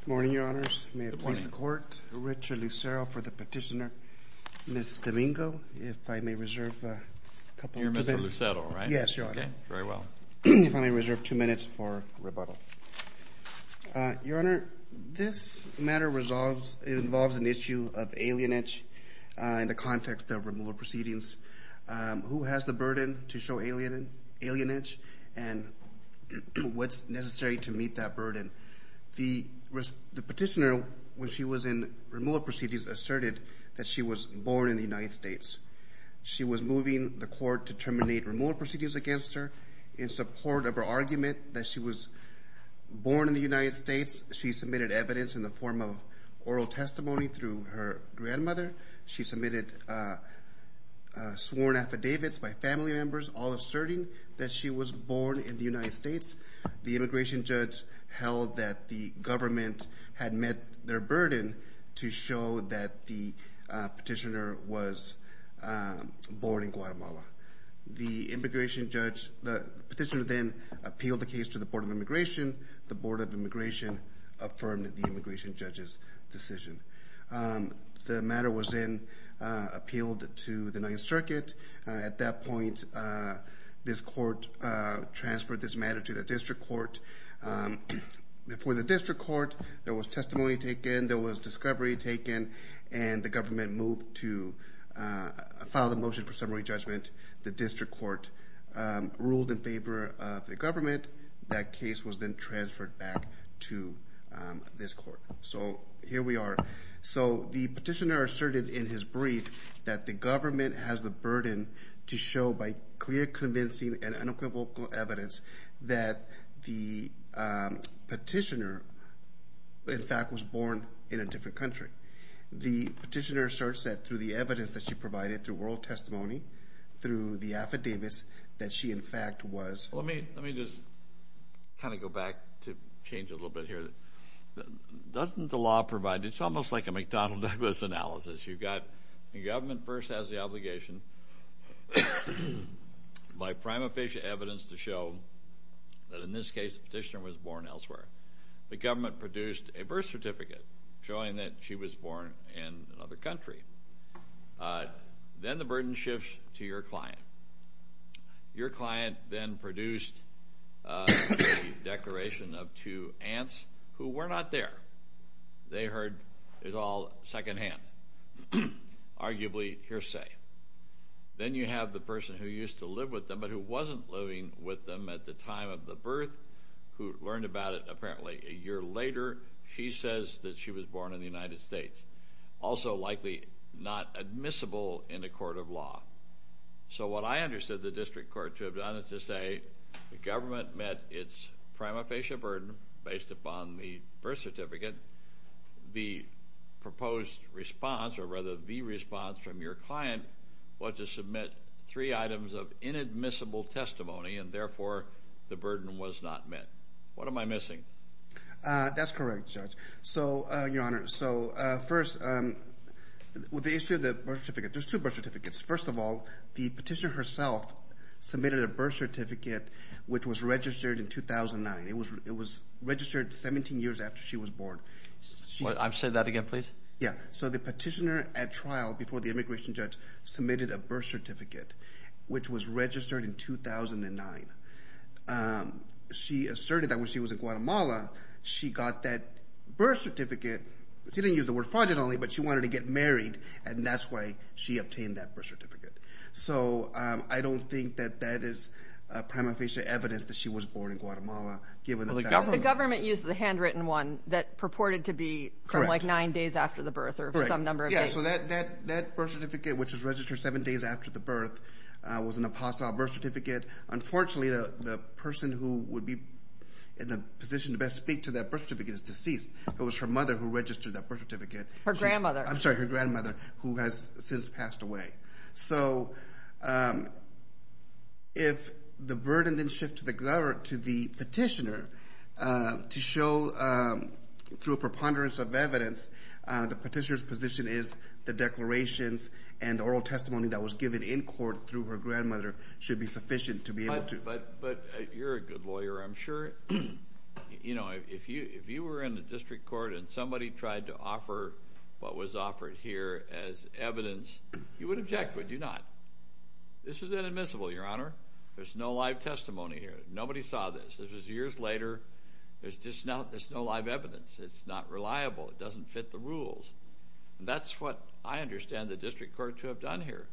Good morning, your honors. May it please the court. Richard Lucero for the petitioner. Ms. Domingo, if I may reserve a couple of minutes. You're Mr. Lucero, right? Yes, your honor. Very well. If I may reserve two minutes for rebuttal. Your honor, this matter involves an issue of alienage in the context of removal proceedings. Who has the burden to show alienage and what's necessary to meet that The petitioner, when she was in removal proceedings, asserted that she was born in the United States. She was moving the court to terminate removal proceedings against her in support of her argument that she was born in the United States. She submitted evidence in the form of oral testimony through her grandmother. She submitted sworn affidavits by family members, all asserting that she was born in the United States. The immigration judge held that the government had met their burden to show that the petitioner was born in Guatemala. The petitioner then appealed the case to the Board of Immigration. The Board of Immigration affirmed the immigration judge's decision. The matter was then appealed to the Ninth Circuit. At that point, this court transferred this matter to the district court. Before the district court, there was testimony taken, there was discovery taken, and the government moved to file the motion for summary judgment. The district court ruled in favor of the government. That case was then transferred back to this court. So here we are. So the petitioner asserted in his brief that the government has the burden to show, by clear, convincing, and unequivocal evidence, that the petitioner, in fact, was born in a different country. The petitioner asserts that through the evidence that she provided through oral testimony, through the affidavits, that she, in fact, was— Let me just kind of go back to change a little bit here. Doesn't the law provide—it's almost like a McDonnell-Douglas analysis. You've got the government first has the obligation by prima facie evidence to show that, in this case, the petitioner was born elsewhere. The government produced a birth certificate showing that she was born in another country. Then the burden shifts to your client. Your client then produced a declaration of two aunts who were not there. They heard it was all secondhand, arguably hearsay. Then you have the person who used to live with them but who wasn't living with them at the time of the birth, who learned about it apparently a year later. She says that she was born in the United States, also likely not admissible in a court of law. So what I understood the district court to have done is to say the government met its prima facie burden based upon the birth certificate. The proposed response, or rather the response from your client, was to submit three items of inadmissible testimony, and therefore the burden was not met. What am I missing? That's correct, Judge. So, Your Honor, so first, with the issue of the birth certificate, there's two birth certificates. First of all, the petitioner herself submitted a birth certificate which was registered in 2009. It was registered 17 years after she was born. Say that again, please. Yeah. So the petitioner at trial before the immigration judge submitted a birth certificate which was registered in 2009. She asserted that when she was in Guatemala, she got that birth certificate. She didn't use the word fraudulently, but she wanted to get married, and that's why she obtained that birth certificate. So I don't think that that is prima facie evidence that she was born in Guatemala. The government used the handwritten one that purported to be from, like, nine days after the birth or some number of days. Yeah, so that birth certificate, which was registered seven days after the birth, was an apostle birth certificate. Unfortunately, the person who would be in the position to best speak to that birth certificate is deceased. It was her mother who registered that birth certificate. Her grandmother. I'm sorry, her grandmother, who has since passed away. So if the burden then shifts to the petitioner to show through a preponderance of evidence, the petitioner's position is the declarations and oral testimony that was given in court through her grandmother should be sufficient to be able to. But you're a good lawyer, I'm sure. You know, if you were in the district court and somebody tried to offer what was offered here as evidence, you would object, would you not? This is inadmissible, Your Honor. There's no live testimony here. Nobody saw this. This was years later. There's just no live evidence. It's not reliable. It doesn't fit the rules. That's what I understand the district court to have done here.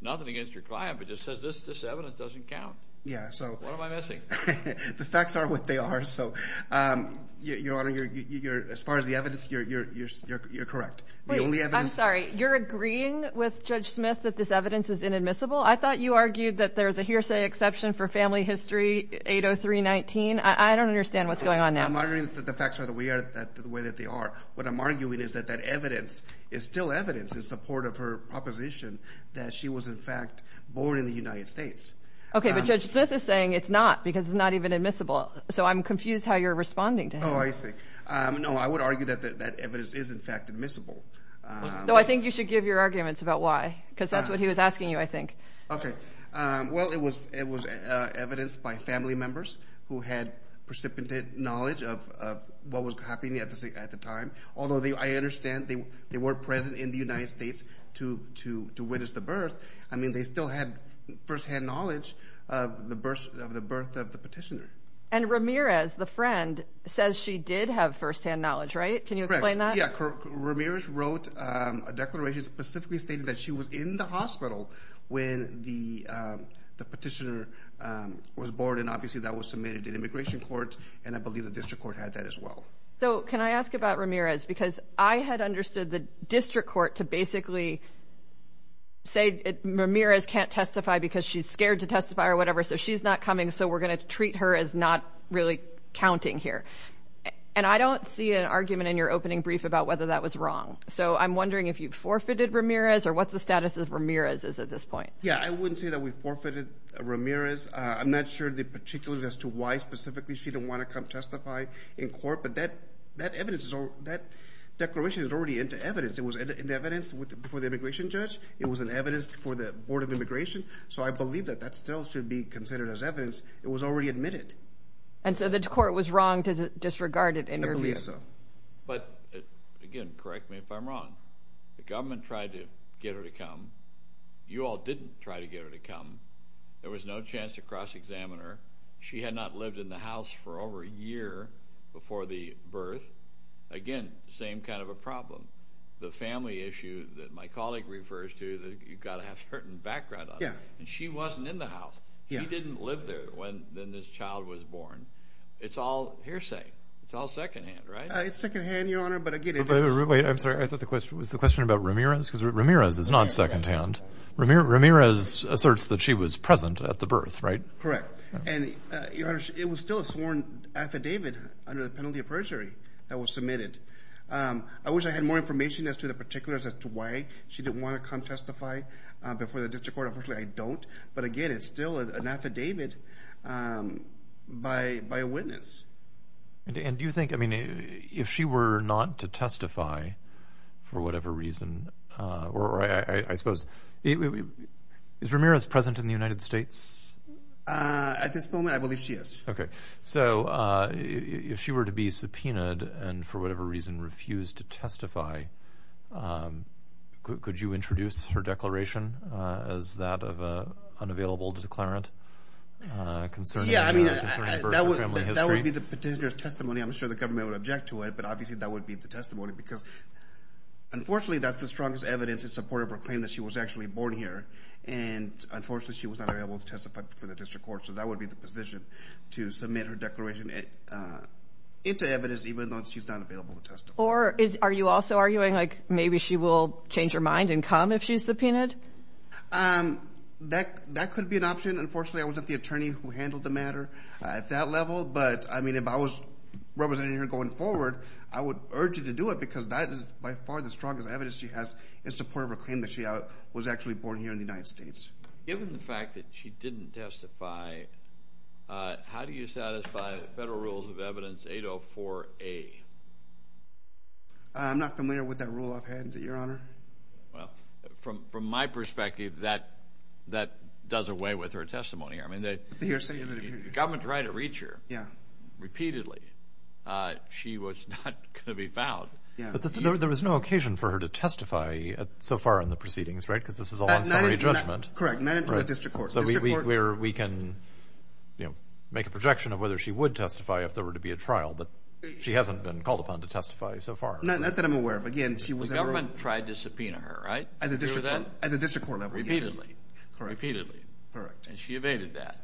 Nothing against your client, but it just says this evidence doesn't count. Yeah, so. What am I missing? The facts are what they are. So, Your Honor, as far as the evidence, you're correct. Wait, I'm sorry. You're agreeing with Judge Smith that this evidence is inadmissible? I thought you argued that there's a hearsay exception for family history 80319. I don't understand what's going on now. I'm arguing that the facts are the way that they are. What I'm arguing is that that evidence is still evidence in support of her proposition that she was, in fact, born in the United States. Okay, but Judge Smith is saying it's not because it's not even admissible. So I'm confused how you're responding to him. Oh, I see. No, I would argue that that evidence is, in fact, admissible. So I think you should give your arguments about why because that's what he was asking you, I think. Okay. Well, it was evidence by family members who had precipitate knowledge of what was happening at the time, although I understand they were present in the United States to witness the birth. I mean, they still had firsthand knowledge of the birth of the petitioner. And Ramirez, the friend, says she did have firsthand knowledge, right? Can you explain that? Yeah. Ramirez wrote a declaration specifically stating that she was in the hospital when the petitioner was born, and obviously that was submitted in immigration court, and I believe the district court had that as well. So can I ask about Ramirez? Because I had understood the district court to basically say Ramirez can't testify because she's scared to testify or whatever, so she's not coming, so we're going to treat her as not really counting here. And I don't see an argument in your opening brief about whether that was wrong. So I'm wondering if you forfeited Ramirez or what the status of Ramirez is at this point. Yeah, I wouldn't say that we forfeited Ramirez. I'm not sure the particulars as to why specifically she didn't want to come testify in court, but that declaration is already into evidence. It was in evidence before the immigration judge. It was in evidence before the Board of Immigration. So I believe that that still should be considered as evidence. It was already admitted. And so the court was wrong to disregard it. I believe so. But, again, correct me if I'm wrong. You all didn't try to get her to come. There was no chance to cross-examine her. She had not lived in the house for over a year before the birth. Again, same kind of a problem. The family issue that my colleague refers to that you've got to have certain background on, and she wasn't in the house. She didn't live there when this child was born. It's all hearsay. It's all secondhand, right? It's secondhand, Your Honor, but, again, it is. Wait, I'm sorry. I thought the question was the question about Ramirez because Ramirez is not secondhand. Ramirez asserts that she was present at the birth, right? Correct. And, Your Honor, it was still a sworn affidavit under the penalty of perjury that was submitted. I wish I had more information as to the particulars as to why she didn't want to come testify before the district court. Unfortunately, I don't. But, again, it's still an affidavit by a witness. And do you think, I mean, if she were not to testify for whatever reason, or I suppose, is Ramirez present in the United States? At this moment, I believe she is. Okay. So if she were to be subpoenaed and for whatever reason refused to testify, could you introduce her declaration as that of an unavailable declarant concerning birth and family history? That would be the potential testimony. I'm sure the government would object to it. But, obviously, that would be the testimony because, unfortunately, that's the strongest evidence in support of her claim that she was actually born here. And, unfortunately, she was not available to testify before the district court. So that would be the position to submit her declaration into evidence even though she's not available to testify. Or are you also arguing, like, maybe she will change her mind and come if she's subpoenaed? That could be an option. Unfortunately, I wasn't the attorney who handled the matter at that level. But, I mean, if I was representing her going forward, I would urge her to do it because that is, by far, the strongest evidence she has in support of her claim that she was actually born here in the United States. Given the fact that she didn't testify, how do you satisfy the federal rules of evidence 804A? I'm not familiar with that rule I've had, Your Honor. Well, from my perspective, that does away with her testimony. I mean, the government tried to reach her repeatedly. She was not going to be found. But there was no occasion for her to testify so far in the proceedings, right? Because this is all on summary judgment. Correct, not until the district court. So we can make a projection of whether she would testify if there were to be a trial. But she hasn't been called upon to testify so far. Not that I'm aware of. The government tried to subpoena her, right? At the district court level, yes. Repeatedly. Correct. And she evaded that.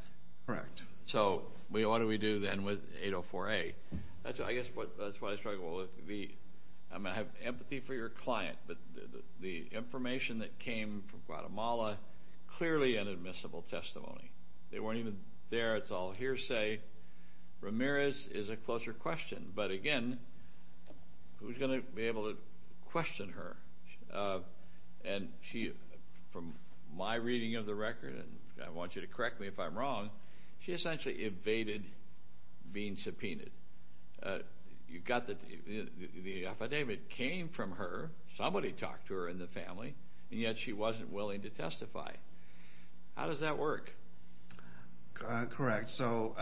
Correct. So what do we do then with 804A? I guess that's why I struggle with the empathy for your client. But the information that came from Guatemala, clearly inadmissible testimony. They weren't even there. It's all hearsay. Ramirez is a closer question. But, again, who's going to be able to question her? And from my reading of the record, and I want you to correct me if I'm wrong, she essentially evaded being subpoenaed. You've got the affidavit came from her. Somebody talked to her in the family, and yet she wasn't willing to testify. How does that work? Correct. So,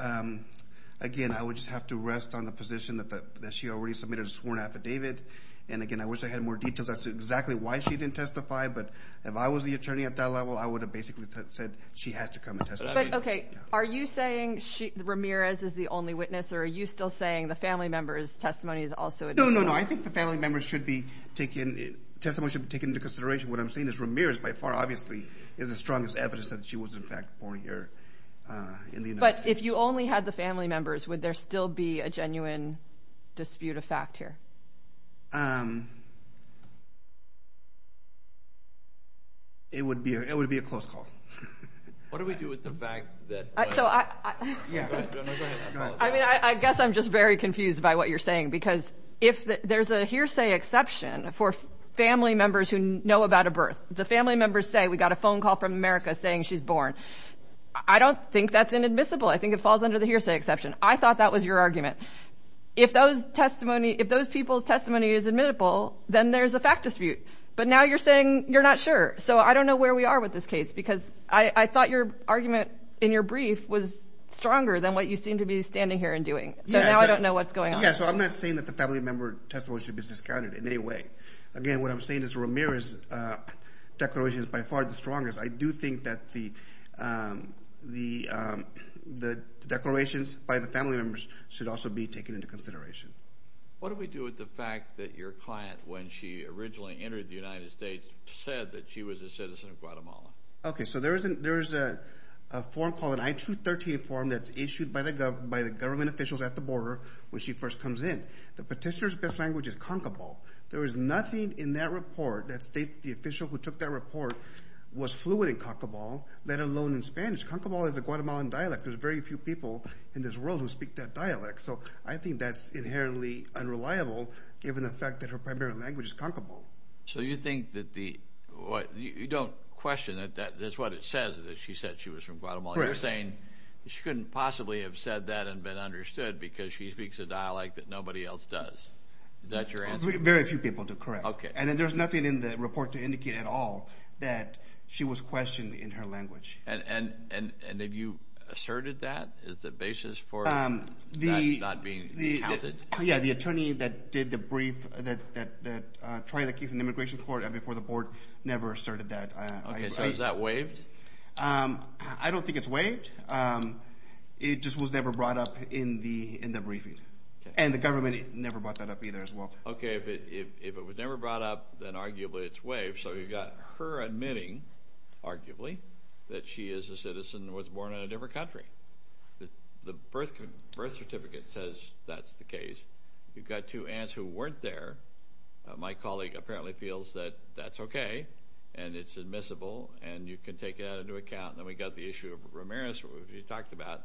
again, I would just have to rest on the position that she already submitted a sworn affidavit. And, again, I wish I had more details as to exactly why she didn't testify. But if I was the attorney at that level, I would have basically said she had to come and testify. But, okay, are you saying Ramirez is the only witness, or are you still saying the family member's testimony is also invalid? No, no, no. I think the family member's testimony should be taken into consideration. What I'm saying is Ramirez by far, obviously, is the strongest evidence that she was, in fact, born here in the United States. But if you only had the family members, would there still be a genuine dispute of fact here? It would be a close call. What do we do with the fact that? I mean, I guess I'm just very confused by what you're saying, because there's a hearsay exception for family members who know about a birth. The family members say we got a phone call from America saying she's born. I don't think that's inadmissible. I think it falls under the hearsay exception. I thought that was your argument. If those people's testimony is admittable, then there's a fact dispute. But now you're saying you're not sure. So I don't know where we are with this case, because I thought your argument in your brief was stronger than what you seem to be standing here and doing. So now I don't know what's going on. Yeah, so I'm not saying that the family member testimony should be discounted in any way. Again, what I'm saying is Ramirez's declaration is by far the strongest. I do think that the declarations by the family members should also be taken into consideration. What do we do with the fact that your client, when she originally entered the United States, said that she was a citizen of Guatemala? Okay, so there's a form called an I-213 form that's issued by the government officials at the border when she first comes in. The petitioner's best language is concable. There is nothing in that report that states the official who took that report was fluent in concable, let alone in Spanish. Concable is a Guatemalan dialect. There's very few people in this world who speak that dialect. So I think that's inherently unreliable, given the fact that her primary language is concable. So you think that the—you don't question it. That's what it says, that she said she was from Guatemala. You're saying she couldn't possibly have said that and been understood because she speaks a dialect that nobody else does. Is that your answer? Very few people do, correct. Okay. And then there's nothing in the report to indicate at all that she was questioned in her language. And have you asserted that as the basis for that not being counted? Yeah, the attorney that did the brief that tried the case in immigration court and before the board never asserted that. Okay, so is that waived? I don't think it's waived. It just was never brought up in the briefing. And the government never brought that up either as well. Okay, if it was never brought up, then arguably it's waived. So you've got her admitting, arguably, that she is a citizen who was born in a different country. The birth certificate says that's the case. You've got two aunts who weren't there. My colleague apparently feels that that's okay and it's admissible and you can take that into account. Then we've got the issue of Ramirez, who you talked about.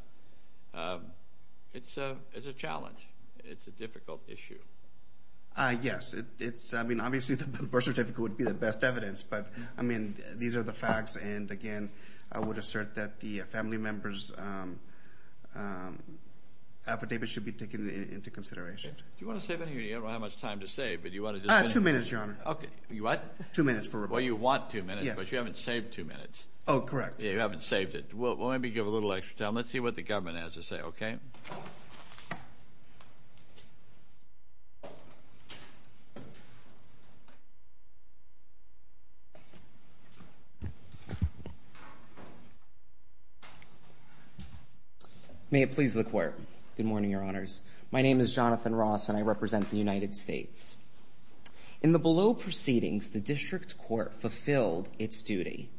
It's a challenge. It's a difficult issue. Yes. I mean, obviously the birth certificate would be the best evidence. But, I mean, these are the facts. And, again, I would assert that the family member's affidavit should be taken into consideration. Do you want to save any? You don't have much time to save. Two minutes, Your Honor. Okay. What? Two minutes for Ramirez. Well, you want two minutes, but you haven't saved two minutes. Oh, correct. Yeah, you haven't saved it. Well, maybe give a little extra time. Let's see what the government has to say, okay? May it please the Court. Good morning, Your Honors. My name is Jonathan Ross and I represent the United States. In the below proceedings, the district court fulfilled its duty.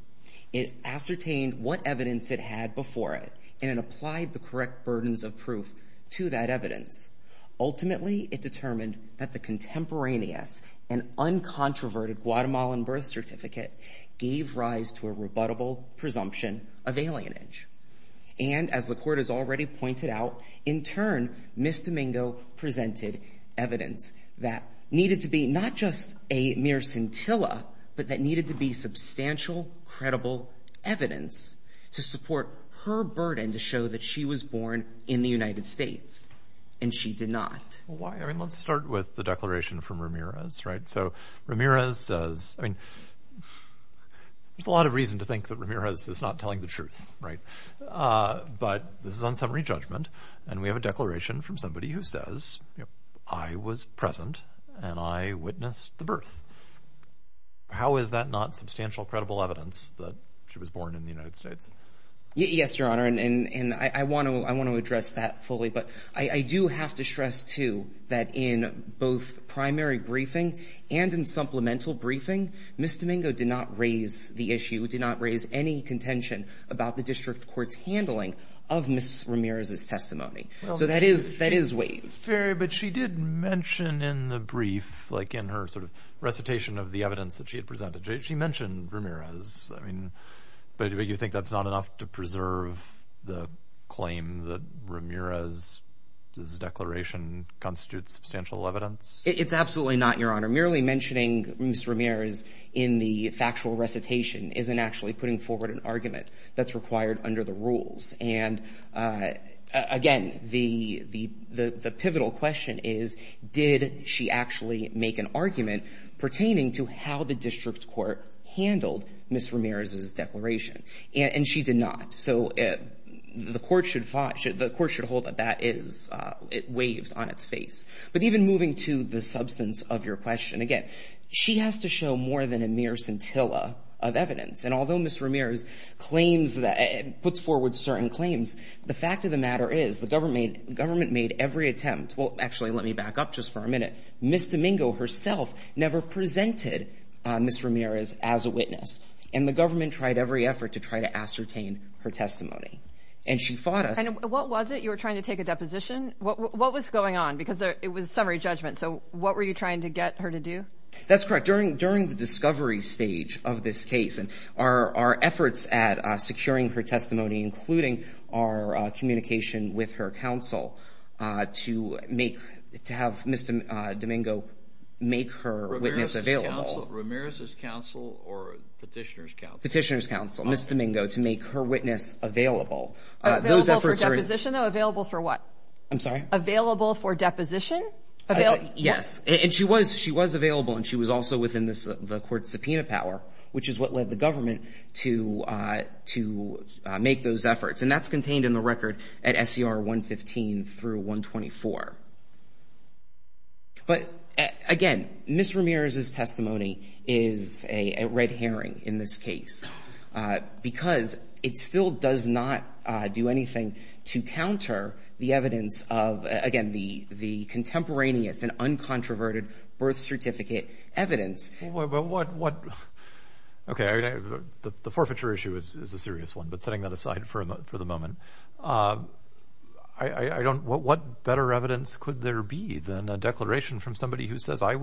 It ascertained what evidence it had before it and it applied the correct burdens of proof to that evidence. Ultimately, it determined that the contemporaneous and uncontroverted Guatemalan birth certificate gave rise to a rebuttable presumption of alienage. And as the Court has already pointed out, in turn, Ms. Domingo presented evidence that needed to be not just a mere scintilla, but that needed to be substantial, credible evidence to support her burden to show that she was born in the United States, and she did not. Well, why? I mean, let's start with the declaration from Ramirez, right? So Ramirez says – I mean, there's a lot of reason to think that Ramirez is not telling the truth, right? But this is on summary judgment, and we have a declaration from somebody who says, you know, I was present and I witnessed the birth. How is that not substantial, credible evidence that she was born in the United States? Yes, Your Honor, and I want to address that fully. But I do have to stress, too, that in both primary briefing and in supplemental briefing, Ms. Domingo did not raise the issue, did not raise any contention about the district court's handling of Ms. Ramirez's testimony. So that is waived. Fair, but she did mention in the brief, like in her sort of recitation of the evidence that she had presented, she mentioned Ramirez. I mean, but you think that's not enough to preserve the claim that Ramirez's declaration constitutes substantial evidence? It's absolutely not, Your Honor. Merely mentioning Ms. Ramirez in the factual recitation isn't actually putting forward an argument that's required under the rules. And, again, the pivotal question is, did she actually make an argument pertaining to how the district court handled Ms. Ramirez's declaration? And she did not. So the Court should hold that that is waived on its face. But even moving to the substance of your question, again, she has to show more than a mere scintilla of evidence. And although Ms. Ramirez puts forward certain claims, the fact of the matter is the government made every attempt. Well, actually, let me back up just for a minute. Ms. Domingo herself never presented Ms. Ramirez as a witness. And the government tried every effort to try to ascertain her testimony. And she fought us. And what was it? You were trying to take a deposition? What was going on? Because it was summary judgment. So what were you trying to get her to do? That's correct. During the discovery stage of this case, our efforts at securing her testimony, including our communication with her counsel, to have Ms. Domingo make her witness available. Ramirez's counsel or Petitioner's counsel? Petitioner's counsel. Ms. Domingo, to make her witness available. Available for deposition, though? Available for what? I'm sorry? Available for deposition? Yes. And she was available and she was also within the court's subpoena power, which is what led the government to make those efforts. And that's contained in the record at SCR 115 through 124. But, again, Ms. Ramirez's testimony is a red herring in this case, because it still does not do anything to counter the evidence of, again, the contemporaneous and uncontroverted birth certificate evidence. Okay. The forfeiture issue is a serious one, but setting that aside for the moment. What better evidence could there be than a declaration from somebody who says, I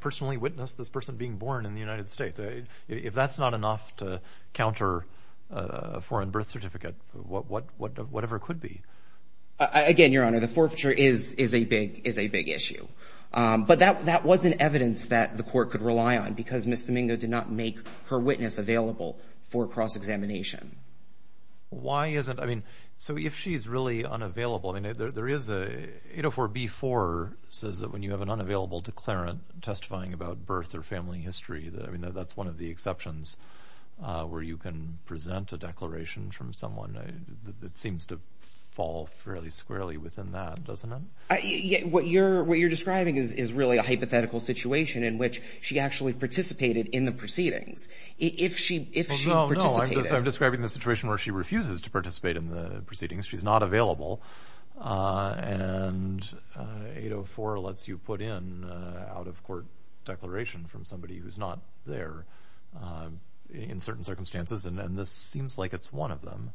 personally witnessed this person being born in the United States. If that's not enough to counter a foreign birth certificate, whatever it could be. Again, Your Honor, the forfeiture is a big issue. But that wasn't evidence that the court could rely on, because Ms. Domingo did not make her witness available for cross-examination. Why is it? I mean, so if she's really unavailable, I mean, there is a 804b-4, says that when you have an unavailable declarant testifying about birth or family history, I mean, that's one of the exceptions where you can present a declaration from someone that seems to fall fairly squarely within that, doesn't it? What you're describing is really a hypothetical situation in which she actually participated in the proceedings. No, no, I'm describing the situation where she refuses to participate in the proceedings. She's not available, and 804 lets you put in an out-of-court declaration from somebody who's not there in certain circumstances, and this seems like it's one of them.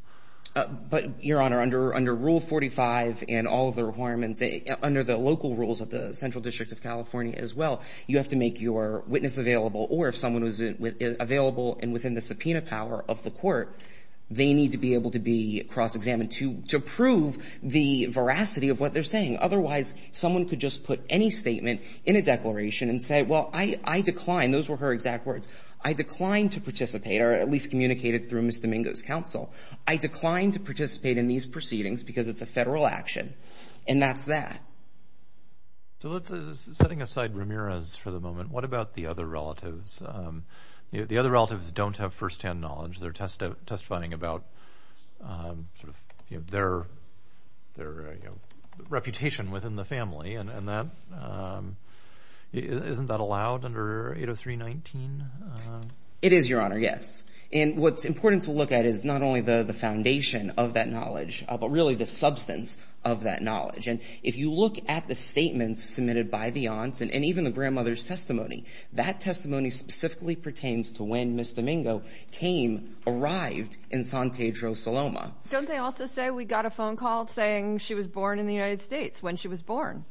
But, Your Honor, under Rule 45 and all of the requirements, under the local rules of the Central District of California as well, you have to make your witness available. Or if someone was available and within the subpoena power of the court, they need to be able to be cross-examined to prove the veracity of what they're saying. Otherwise, someone could just put any statement in a declaration and say, well, I decline. Those were her exact words. I decline to participate, or at least communicate it through Ms. Domingo's counsel. I decline to participate in these proceedings because it's a federal action, and that's that. So setting aside Ramirez for the moment, what about the other relatives? The other relatives don't have first-hand knowledge. They're testifying about their reputation within the family, and isn't that allowed under 803.19? It is, Your Honor, yes. And what's important to look at is not only the foundation of that knowledge, but really the substance of that knowledge. And if you look at the statements submitted by the aunts and even the grandmother's testimony, that testimony specifically pertains to when Ms. Domingo came, arrived in San Pedro, Soloma. Don't they also say we got a phone call saying she was born in the United States when she was born?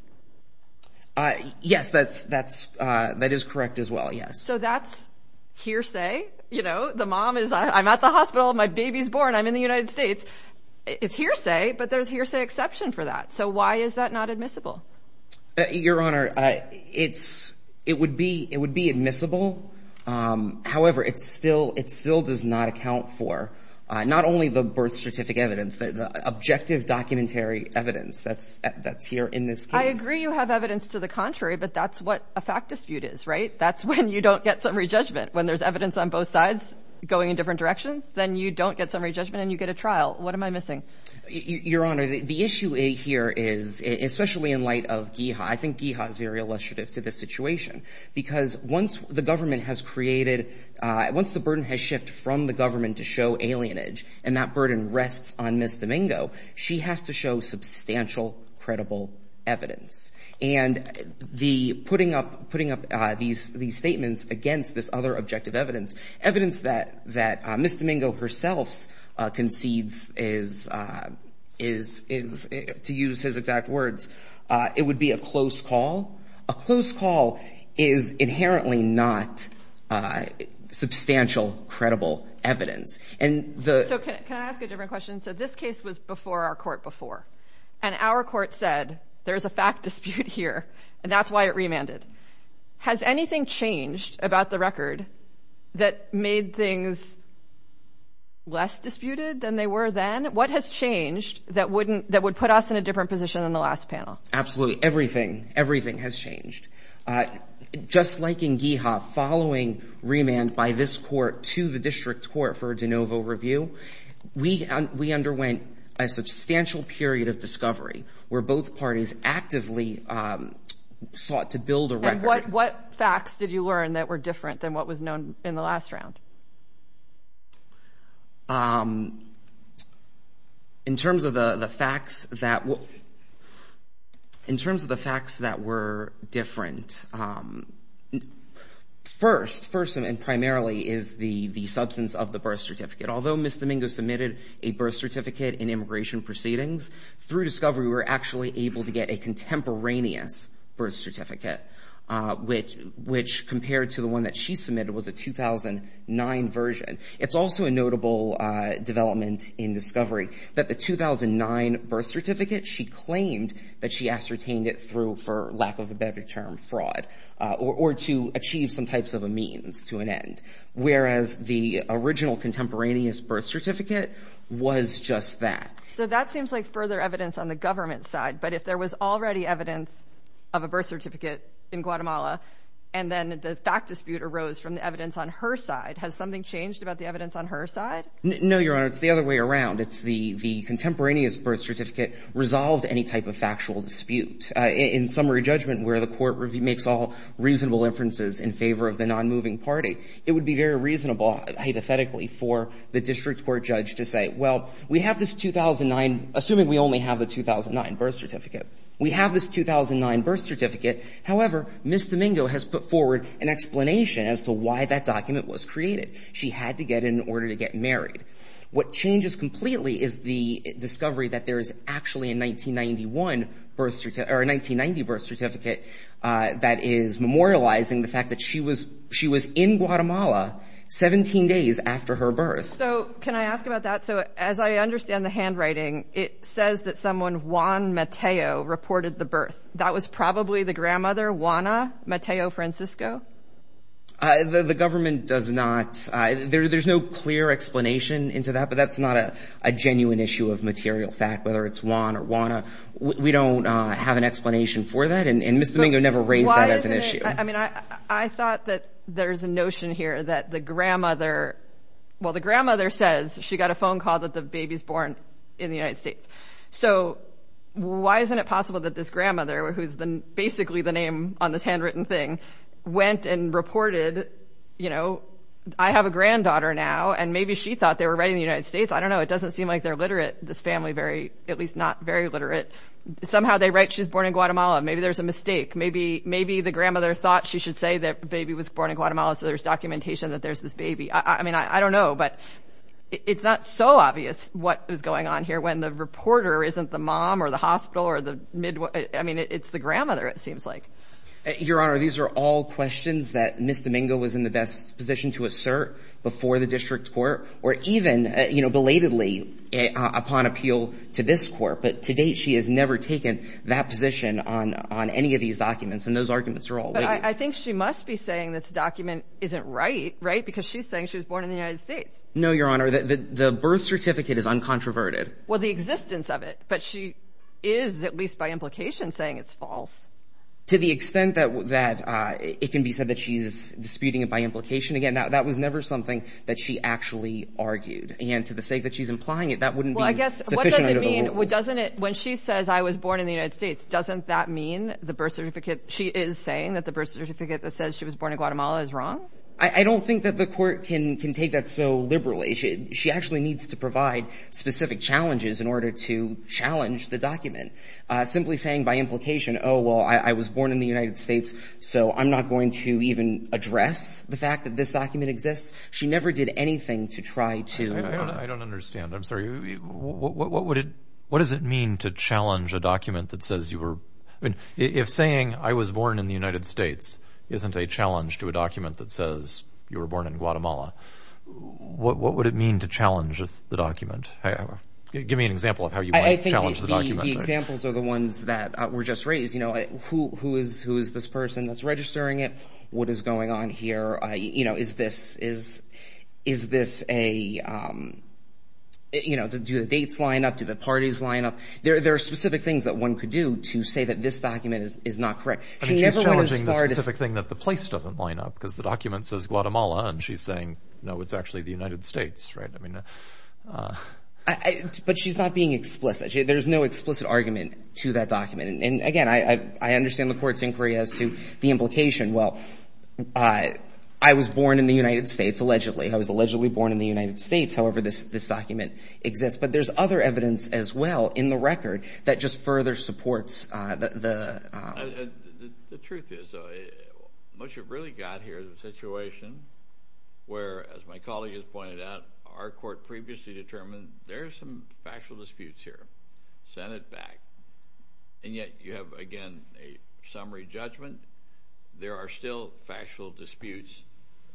Yes, that is correct as well, yes. So that's hearsay? You know, the mom is, I'm at the hospital, my baby's born, I'm in the United States. It's hearsay, but there's hearsay exception for that. So why is that not admissible? Your Honor, it would be admissible. However, it still does not account for not only the birth certificate, the birth certificate evidence, the objective documentary evidence that's here in this case. I agree you have evidence to the contrary, but that's what a fact dispute is, right? That's when you don't get summary judgment. When there's evidence on both sides going in different directions, then you don't get summary judgment and you get a trial. What am I missing? Your Honor, the issue here is, especially in light of GIHA, I think GIHA is very illustrative to this situation because once the government has created, once the burden has shifted from the government to show alienage, and that burden rests on Ms. Domingo, she has to show substantial, credible evidence. And putting up these statements against this other objective evidence, evidence that Ms. Domingo herself concedes is, to use his exact words, it would be a close call. A close call is inherently not substantial, credible evidence. So can I ask a different question? So this case was before our court before, and our court said there's a fact dispute here, and that's why it remanded. Has anything changed about the record that made things less disputed than they were then? What has changed that would put us in a different position than the last panel? Absolutely. Everything. Everything has changed. Just like in GIHA, following remand by this court to the district court for a de novo review, we underwent a substantial period of discovery where both parties actively sought to build a record. And what facts did you learn that were different than what was known in the last round? In terms of the facts that were different, first and primarily is the substance of the birth certificate. Although Ms. Domingo submitted a birth certificate in immigration proceedings, through discovery we were actually able to get a contemporaneous birth certificate, which compared to the one that she submitted was a 2009 version. It's also a notable development in discovery that the 2009 birth certificate, she claimed that she ascertained it through, for lack of a better term, fraud, or to achieve some types of a means to an end, whereas the original contemporaneous birth certificate was just that. So that seems like further evidence on the government side, but if there was already evidence of a birth certificate in Guatemala and then the fact dispute arose from the evidence on her side, has something changed about the evidence on her side? No, Your Honor. It's the other way around. It's the contemporaneous birth certificate resolved any type of factual dispute. In summary judgment where the court makes all reasonable inferences in favor of the non-moving party, it would be very reasonable, hypothetically, for the district court judge to say, well, we have this 2009, assuming we only have the 2009 birth certificate. We have this 2009 birth certificate. However, Ms. Domingo has put forward an explanation as to why that document was created. She had to get it in order to get married. What changes completely is the discovery that there is actually a 1991 birth certificate or a 1990 birth certificate that is memorializing the fact that she was in Guatemala 17 days after her birth. So can I ask about that? So as I understand the handwriting, it says that someone, Juan Mateo, reported the birth. That was probably the grandmother, Juana Mateo Francisco? The government does not. There's no clear explanation into that, but that's not a genuine issue of material fact, whether it's Juan or Juana. We don't have an explanation for that, and Ms. Domingo never raised that as an issue. I mean, I thought that there's a notion here that the grandmother, well, the grandmother says she got a phone call that the baby's born in the United States. So why isn't it possible that this grandmother, who's basically the name on this handwritten thing, went and reported, you know, I have a granddaughter now, and maybe she thought they were right in the United States. I don't know. It doesn't seem like they're literate, this family, at least not very literate. Somehow they write she's born in Guatemala. Maybe there's a mistake. Maybe the grandmother thought she should say that the baby was born in Guatemala, so there's documentation that there's this baby. I mean, I don't know. But it's not so obvious what is going on here when the reporter isn't the mom or the hospital or the midwife. I mean, it's the grandmother, it seems like. Your Honor, these are all questions that Ms. Domingo was in the best position to assert before the district court or even, you know, belatedly upon appeal to this court. But to date she has never taken that position on any of these documents. And those arguments are all waived. But I think she must be saying this document isn't right, right, because she's saying she was born in the United States. No, Your Honor. The birth certificate is uncontroverted. Well, the existence of it. But she is, at least by implication, saying it's false. To the extent that it can be said that she's disputing it by implication, again, that was never something that she actually argued. I mean, when she says I was born in the United States, doesn't that mean the birth certificate, she is saying that the birth certificate that says she was born in Guatemala is wrong? I don't think that the court can take that so liberally. She actually needs to provide specific challenges in order to challenge the document. Simply saying by implication, oh, well, I was born in the United States, so I'm not going to even address the fact that this document exists, she never did anything to try to. I don't understand. I'm sorry. What does it mean to challenge a document that says you were – if saying I was born in the United States isn't a challenge to a document that says you were born in Guatemala, what would it mean to challenge the document? Give me an example of how you might challenge the document. I think the examples are the ones that were just raised. Who is this person that's registering it? What is going on here? Is this a – do the dates line up? Do the parties line up? There are specific things that one could do to say that this document is not correct. I mean, she's challenging the specific thing that the place doesn't line up because the document says Guatemala and she's saying, no, it's actually the United States, right? But she's not being explicit. There's no explicit argument to that document. And, again, I understand the court's inquiry as to the implication. Well, I was born in the United States, allegedly. I was allegedly born in the United States. However, this document exists. But there's other evidence as well in the record that just further supports the – The truth is what you've really got here is a situation where, as my colleague has pointed out, our court previously determined there are some factual disputes here, sent it back. And yet you have, again, a summary judgment. There are still factual disputes.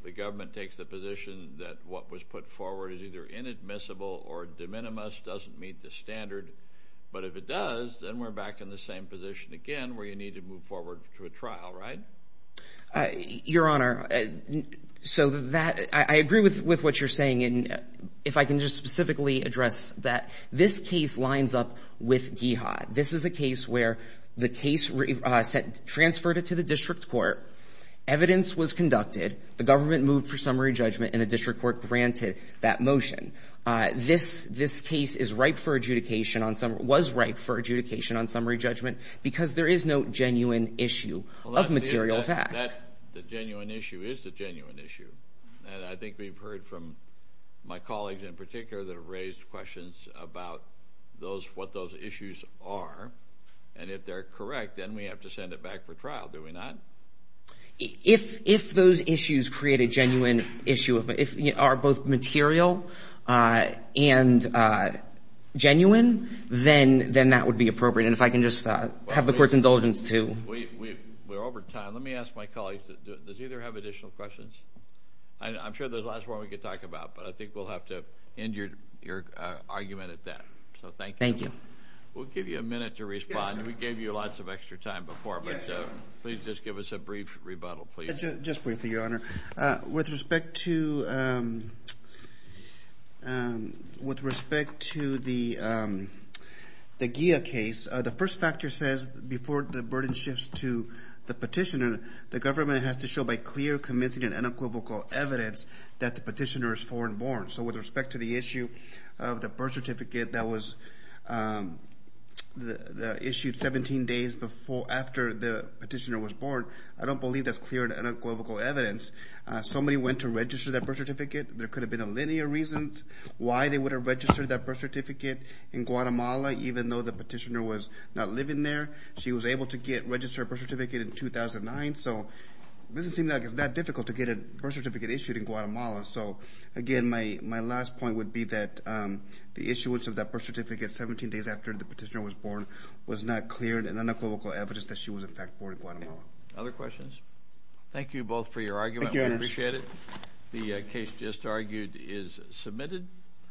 The government takes the position that what was put forward is either inadmissible or de minimis, doesn't meet the standard. But if it does, then we're back in the same position again where you need to move forward to a trial, right? Your Honor, so that – I agree with what you're saying. And if I can just specifically address that, this case lines up with GIHA. This is a case where the case transferred it to the district court, evidence was conducted, the government moved for summary judgment, and the district court granted that motion. This case is ripe for adjudication on – was ripe for adjudication on summary judgment because there is no genuine issue of material fact. The genuine issue is the genuine issue. And I think we've heard from my colleagues in particular that have raised questions about those – what those issues are. And if they're correct, then we have to send it back for trial, do we not? If those issues create a genuine issue of – are both material and genuine, then that would be appropriate. And if I can just have the court's indulgence to – We're over time. Let me ask my colleagues, does either have additional questions? I'm sure there's lots more we could talk about, but I think we'll have to end your argument at that. So thank you. Thank you. We'll give you a minute to respond. We gave you lots of extra time before, but please just give us a brief rebuttal, please. Just briefly, Your Honor. With respect to the GIA case, the first factor says before the burden shifts to the petitioner, the government has to show by clear, convincing, and unequivocal evidence that the petitioner is foreign-born. So with respect to the issue of the birth certificate that was issued 17 days after the petitioner was born, I don't believe that's clear and unequivocal evidence. Somebody went to register that birth certificate. There could have been a linear reason why they would have registered that birth certificate in Guatemala, even though the petitioner was not living there. She was able to register a birth certificate in 2009, so it doesn't seem like it's that difficult to get a birth certificate issued in Guatemala. So, again, my last point would be that the issuance of that birth certificate 17 days after the petitioner was born was not clear and unequivocal evidence that she was, in fact, born in Guatemala. Other questions? Thank you both for your argument. Thank you, Your Honor. We appreciate it. The case just argued is submitted.